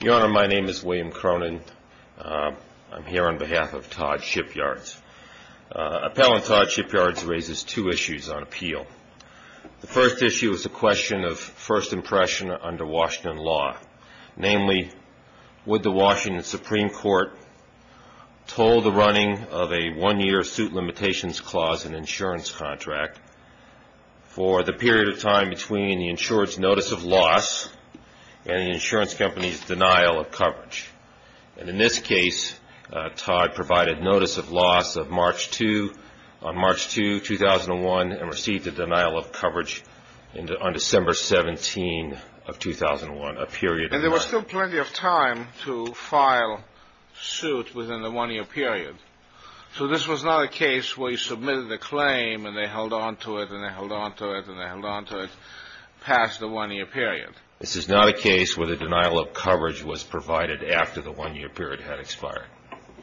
Your Honor, my name is William Cronin. I'm here on behalf of Todd Shipyards. Appellant Todd Shipyards raises two issues on appeal. The first issue is a question of first impression under Washington law. Namely, would the Washington Supreme Court toll the running of a one-year suit limitations clause in an insurance contract for the period of time between the insurance notice of loss and the insurance company's denial of coverage. And in this case, Todd provided notice of loss on March 2, 2001 and received a denial of coverage on December 17 of 2001, a period of time. And there was still plenty of time to file suit within the one-year period. So this was not a case where you submitted a claim and they held on to it past the one-year period. This is not a case where the denial of coverage was provided after the one-year period had expired.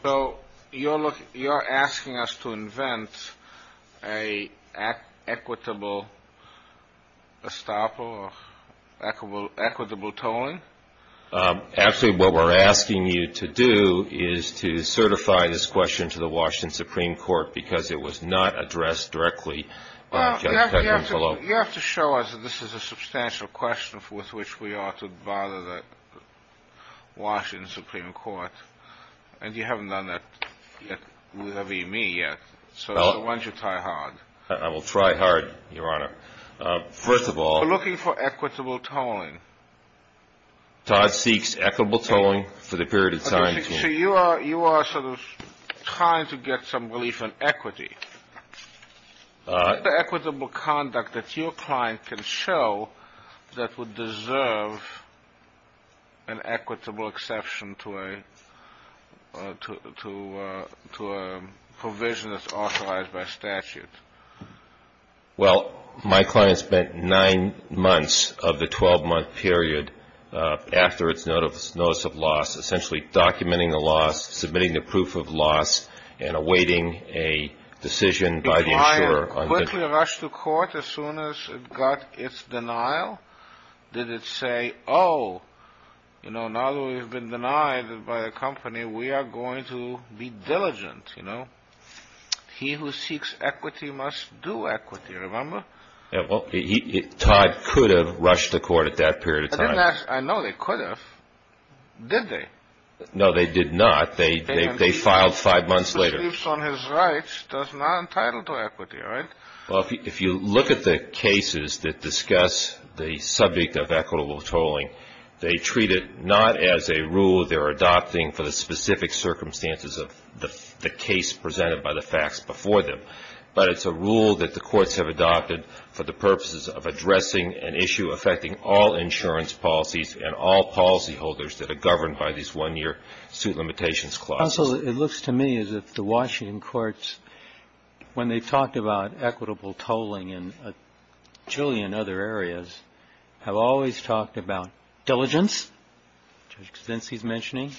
So you're asking us to invent an equitable estoppel or equitable tolling? Actually, what we're asking you to do is to certify this question to the Washington Supreme Court because it was not addressed directly by Judge Kagan's law. You have to show us that this is a substantial question with which we ought to bother the Washington Supreme Court. And you haven't done that with me yet. So why don't you try hard? I will try hard, Your Honor. First of all... We're looking for equitable tolling. Todd seeks equitable tolling for the period of time... So you are sort of trying to get some relief on equity. What is the equitable conduct that your client can show that would deserve an equitable exception to a provision that's authorized by statute? Well, my client spent nine months of the 12-month period after its notice of loss essentially documenting the loss, submitting the proof of loss, and awaiting a decision by the insurer... Did the client quickly rush to court as soon as it got its denial? Did it say, oh, you know, now that we've been denied by a company, we are going to be diligent, you know? He who seeks equity must do equity, remember? Yeah, well, Todd could have rushed to court at that period of time. I know they could have. Did they? No, they did not. They filed five months later. He who believes on his rights does not entitle to equity, right? Well, if you look at the cases that discuss the subject of equitable tolling, they treat it not as a rule they're adopting for the specific circumstances of the case presented by the facts before them, but it's a rule that the courts have adopted for the purposes of addressing an issue affecting all insurance policies and all policyholders that are governed by these one-year suit limitations clauses. Counsel, it looks to me as if the Washington courts, when they've talked about equitable tolling in a jillion other areas, have always talked about diligence, Judge Kudinsky's mentioning,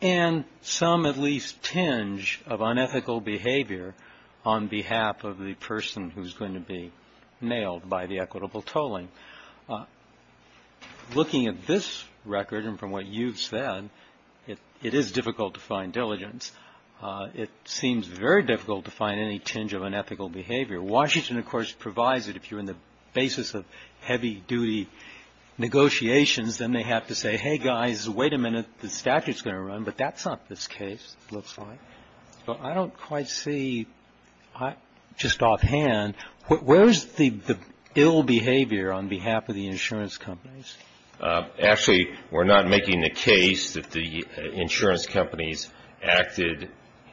and some at least tinge of unethical behavior on behalf of the person who's going to be nailed by the equitable tolling. Looking at this record and from what you've said, it is difficult to find diligence. It seems very difficult to find any tinge of unethical behavior. Washington, of course, provides it. If you're in the basis of heavy-duty negotiations, then they have to say, hey, guys, wait a minute. The statute's going to run, but that's not this case, it looks like. So I don't quite see, just offhand, where's the ill behavior on behalf of the insurance companies? Actually, we're not making the case that the insurance companies acted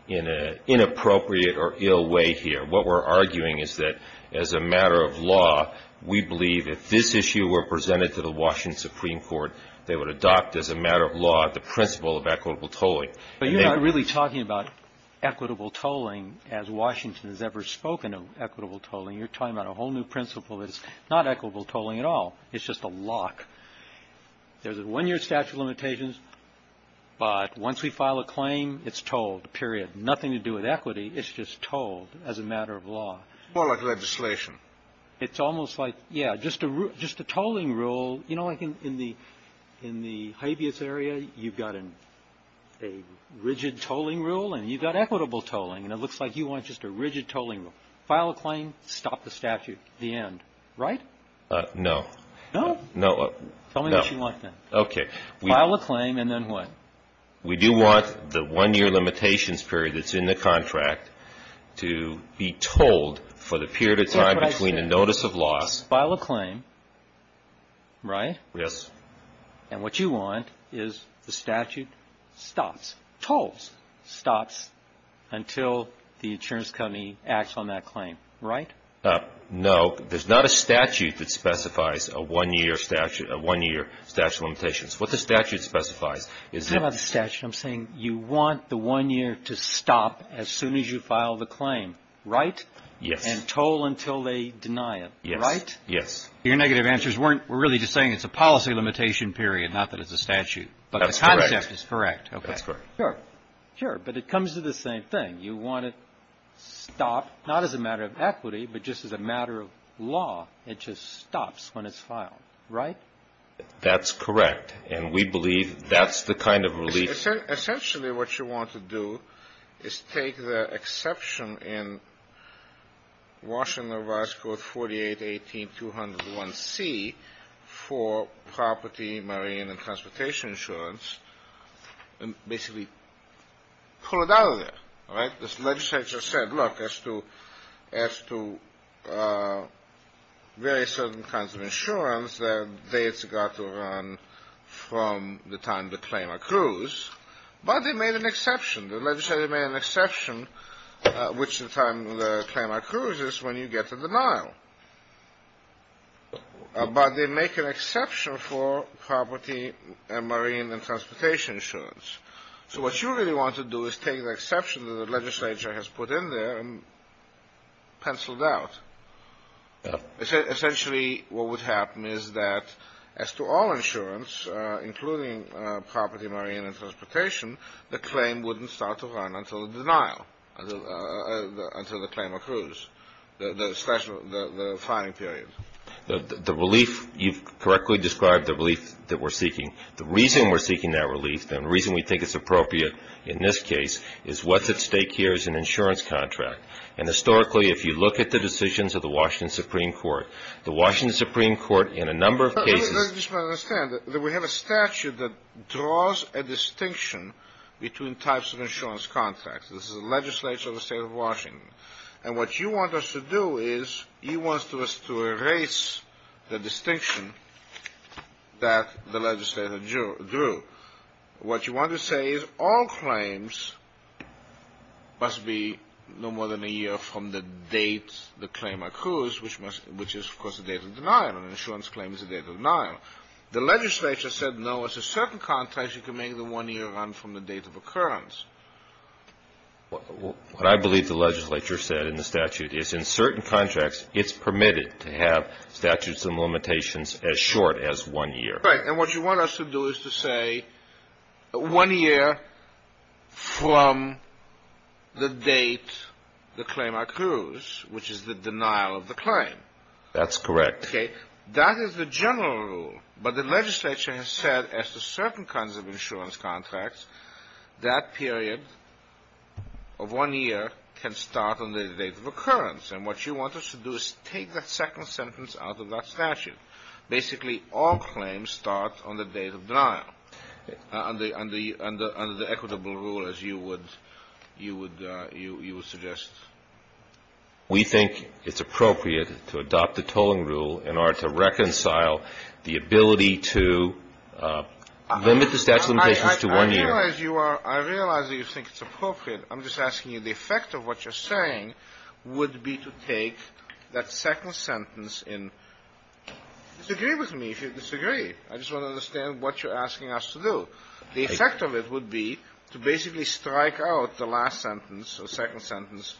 in an inappropriate or ill way here. What we're arguing is that as a matter of law, we believe if this issue were presented to the Washington Supreme Court, they would adopt as a matter of law the principle of equitable tolling. But you're not really talking about equitable tolling as Washington has ever spoken of equitable tolling. You're talking about a whole new principle that's not equitable tolling at all. It's just a lock. There's a one-year statute of limitations, but once we file a claim, it's tolled, period. Nothing to do with equity, it's just tolled as a matter of law. More like legislation. It's almost like, yeah, just a tolling rule. You know, like in the habeas area, you've got a rigid tolling rule and you've got equitable tolling, and it looks like you want just a rigid tolling rule. File a claim, stop the statute, the end, right? No. No? No. Tell me what you want then. Okay. File a claim, and then what? We do want the one-year limitations period that's in the contract to be tolled for the period of time. Between a notice of loss. File a claim, right? Yes. And what you want is the statute stops, tolls, stops until the insurance company acts on that claim, right? No. There's not a statute that specifies a one-year statute of limitations. What the statute specifies is that. You're talking about the statute. I'm saying you want the one year to stop as soon as you file the claim, right? Yes. And toll until they deny it, right? Yes. Your negative answers were really just saying it's a policy limitation period, not that it's a statute. That's correct. But the concept is correct, okay. That's correct. Sure, but it comes to the same thing. You want it stopped not as a matter of equity, but just as a matter of law. It just stops when it's filed, right? That's correct, and we believe that's the kind of relief. Essentially, what you want to do is take the exception in Washington Revised Code 4818-201C for property, marine, and transportation insurance and basically pull it out of there, right? The legislature said, look, as to various certain kinds of insurance, that they have got to run from the time the claim accrues. But they made an exception. The legislature made an exception, which the time the claim accrues is when you get to denial. But they make an exception for property and marine and transportation insurance. So what you really want to do is take the exception that the legislature has put in there and pencil it out. Essentially, what would happen is that as to all insurance, including property, marine, and transportation, the claim wouldn't start to run until the denial, until the claim accrues, the filing period. The relief, you've correctly described the relief that we're seeking. The reason we're seeking that relief and the reason we think it's appropriate in this case is what's at stake here is an insurance contract. And historically, if you look at the decisions of the Washington Supreme Court, the Washington Supreme Court in a number of cases — Let me just understand that we have a statute that draws a distinction between types of insurance contracts. This is the legislature of the State of Washington. And what you want us to do is you want us to erase the distinction that the legislature drew. What you want to say is all claims must be no more than a year from the date the claim accrues, which is, of course, the date of denial. An insurance claim is the date of denial. The legislature said, no, it's a certain contract. You can make the one year run from the date of occurrence. What I believe the legislature said in the statute is in certain contracts, it's permitted to have statutes and limitations as short as one year. Right. And what you want us to do is to say one year from the date the claim accrues, which is the denial of the claim. That's correct. Okay. That is the general rule. But the legislature has said as to certain kinds of insurance contracts, that period of one year can start on the date of occurrence. And what you want us to do is take that second sentence out of that statute. Basically, all claims start on the date of denial under the equitable rule, as you would suggest. We think it's appropriate to adopt the tolling rule in order to reconcile the ability to limit the statute of limitations to one year. I realize that you think it's appropriate. I'm just asking you, the effect of what you're saying would be to take that second sentence in. Disagree with me if you disagree. I just want to understand what you're asking us to do. The effect of it would be to basically strike out the last sentence, the second sentence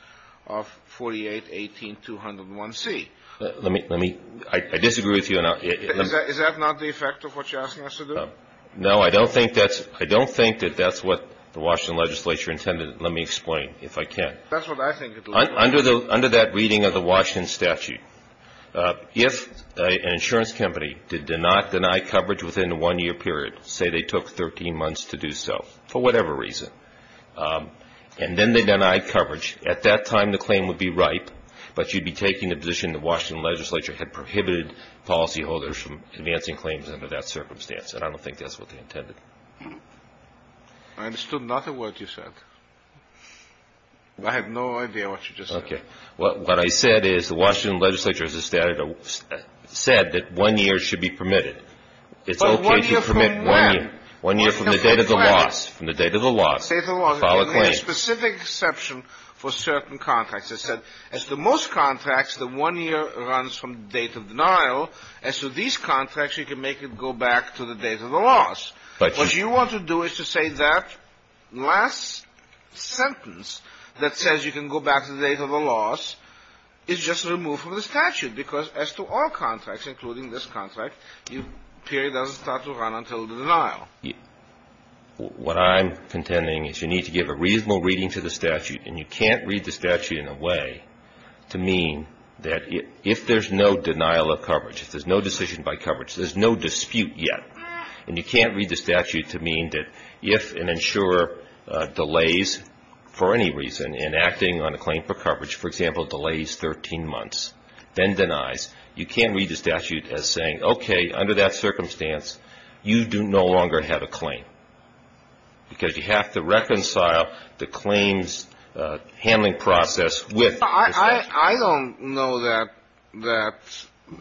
of 4818-201C. Let me – I disagree with you. Is that not the effect of what you're asking us to do? No, I don't think that's – I don't think that that's what the Washington legislature intended. Let me explain, if I can. That's what I think it would be. Under that reading of the Washington statute, if an insurance company did not deny coverage within a one-year period, say they took 13 months to do so, for whatever reason, and then they denied coverage, at that time the claim would be ripe, but you'd be taking the position the Washington legislature had prohibited policyholders from advancing claims under that circumstance. And I don't think that's what they intended. I understood nothing of what you said. I have no idea what you just said. Okay. What I said is the Washington legislature has said that one year should be permitted. It's okay to permit one year. But one year from when? One year from the date of the loss. From the date of the loss. From the date of the loss. You can make a specific exception for certain contracts. As the most contracts, the one year runs from the date of denial, and so these contracts you can make it go back to the date of the loss. What you want to do is to say that last sentence that says you can go back to the date of the loss is just removed from the statute, because as to all contracts, including this contract, the period doesn't start to run until the denial. What I'm contending is you need to give a reasonable reading to the statute, and you can't read the statute in a way to mean that if there's no denial of coverage, if there's no decision by coverage, there's no dispute yet, and you can't read the statute to mean that if an insurer delays, for any reason, in acting on a claim for coverage, for example, delays 13 months, then denies, you can't read the statute as saying, okay, under that circumstance, you no longer have a claim, because you have to reconcile the claims handling process with the statute. I don't know that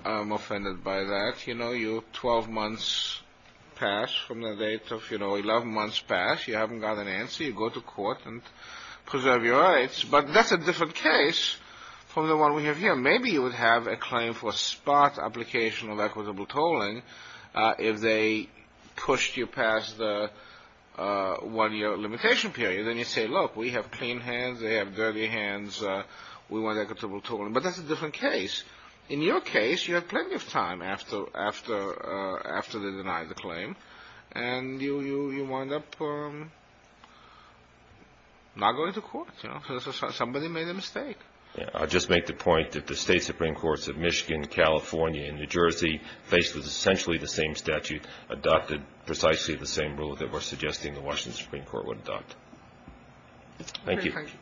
I'm offended by that. You know you have 12 months past from the date of, you know, 11 months past. You haven't got an answer. You go to court and preserve your rights. But that's a different case from the one we have here. Maybe you would have a claim for spot application of equitable tolling if they pushed you past the one-year limitation period. Then you say, look, we have clean hands, they have dirty hands, we want equitable tolling. But that's a different case. In your case, you have plenty of time after they deny the claim, and you wind up not going to court, you know, because somebody made a mistake. Yeah. I'll just make the point that the State Supreme Courts of Michigan, California, and New Jersey, faced with essentially the same statute, adopted precisely the same rule that we're suggesting the Washington Supreme Court would adopt. Thank you. Thank you.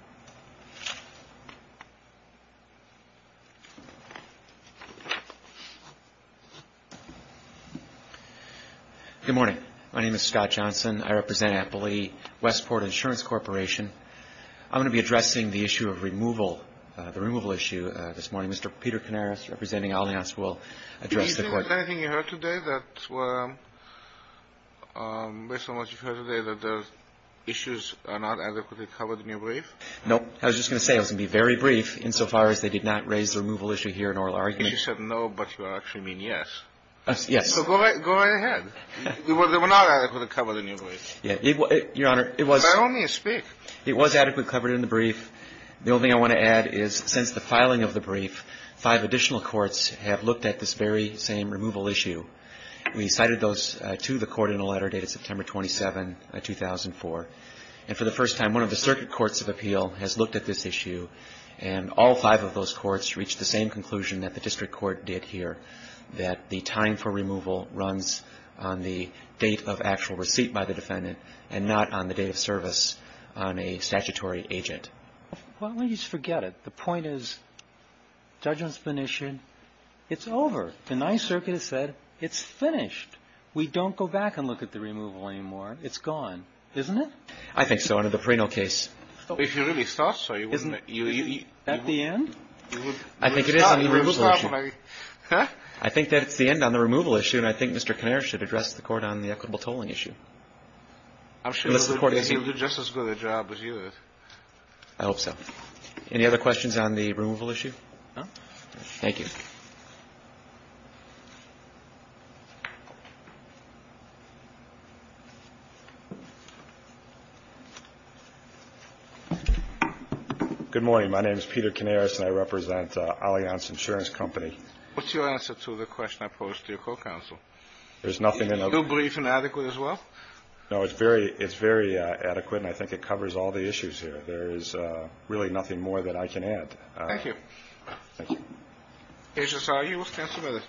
Good morning. My name is Scott Johnson. I represent Appley Westport Insurance Corporation. I'm going to be addressing the issue of removal, the removal issue this morning. Mr. Peter Canaris, representing Allianz, will address the court. Is there anything you heard today that, based on what you heard today, that the issues are not adequately covered in your brief? No. I was just going to say, I was going to be very brief, insofar as they did not raise the removal issue here in oral argument. You said no, but you actually mean yes. Yes. So go right ahead. They were not adequately covered in your brief. Your Honor, it was. By all means, speak. The only thing I want to add is, since the filing of the brief, five additional courts have looked at this very same removal issue. We cited those to the court in a letter dated September 27, 2004. And for the first time, one of the circuit courts of appeal has looked at this issue, and all five of those courts reached the same conclusion that the district court did here, that the time for removal runs on the date of actual receipt by the defendant and not on the date of service on a statutory agent. Well, please forget it. The point is, judgment's been issued. It's over. The Ninth Circuit has said, it's finished. We don't go back and look at the removal anymore. It's gone. Isn't it? I think so under the Perino case. If you really thought so, you wouldn't have. Isn't it? At the end? I think it is on the removal issue. Huh? I think that it's the end on the removal issue, and I think Mr. Kinnear should address the Court on the equitable tolling issue. I'm sure he'll do just as good a job as you did. I hope so. Any other questions on the removal issue? No. Thank you. Good morning. My name is Peter Kinnear, and I represent Allianz Insurance Company. What's your answer to the question I posed to your co-counsel? There's nothing in it. Is it too brief and adequate as well? No, it's very adequate, and I think it covers all the issues here. There is really nothing more that I can add. Thank you. Thank you. Agents, are you with counsel today?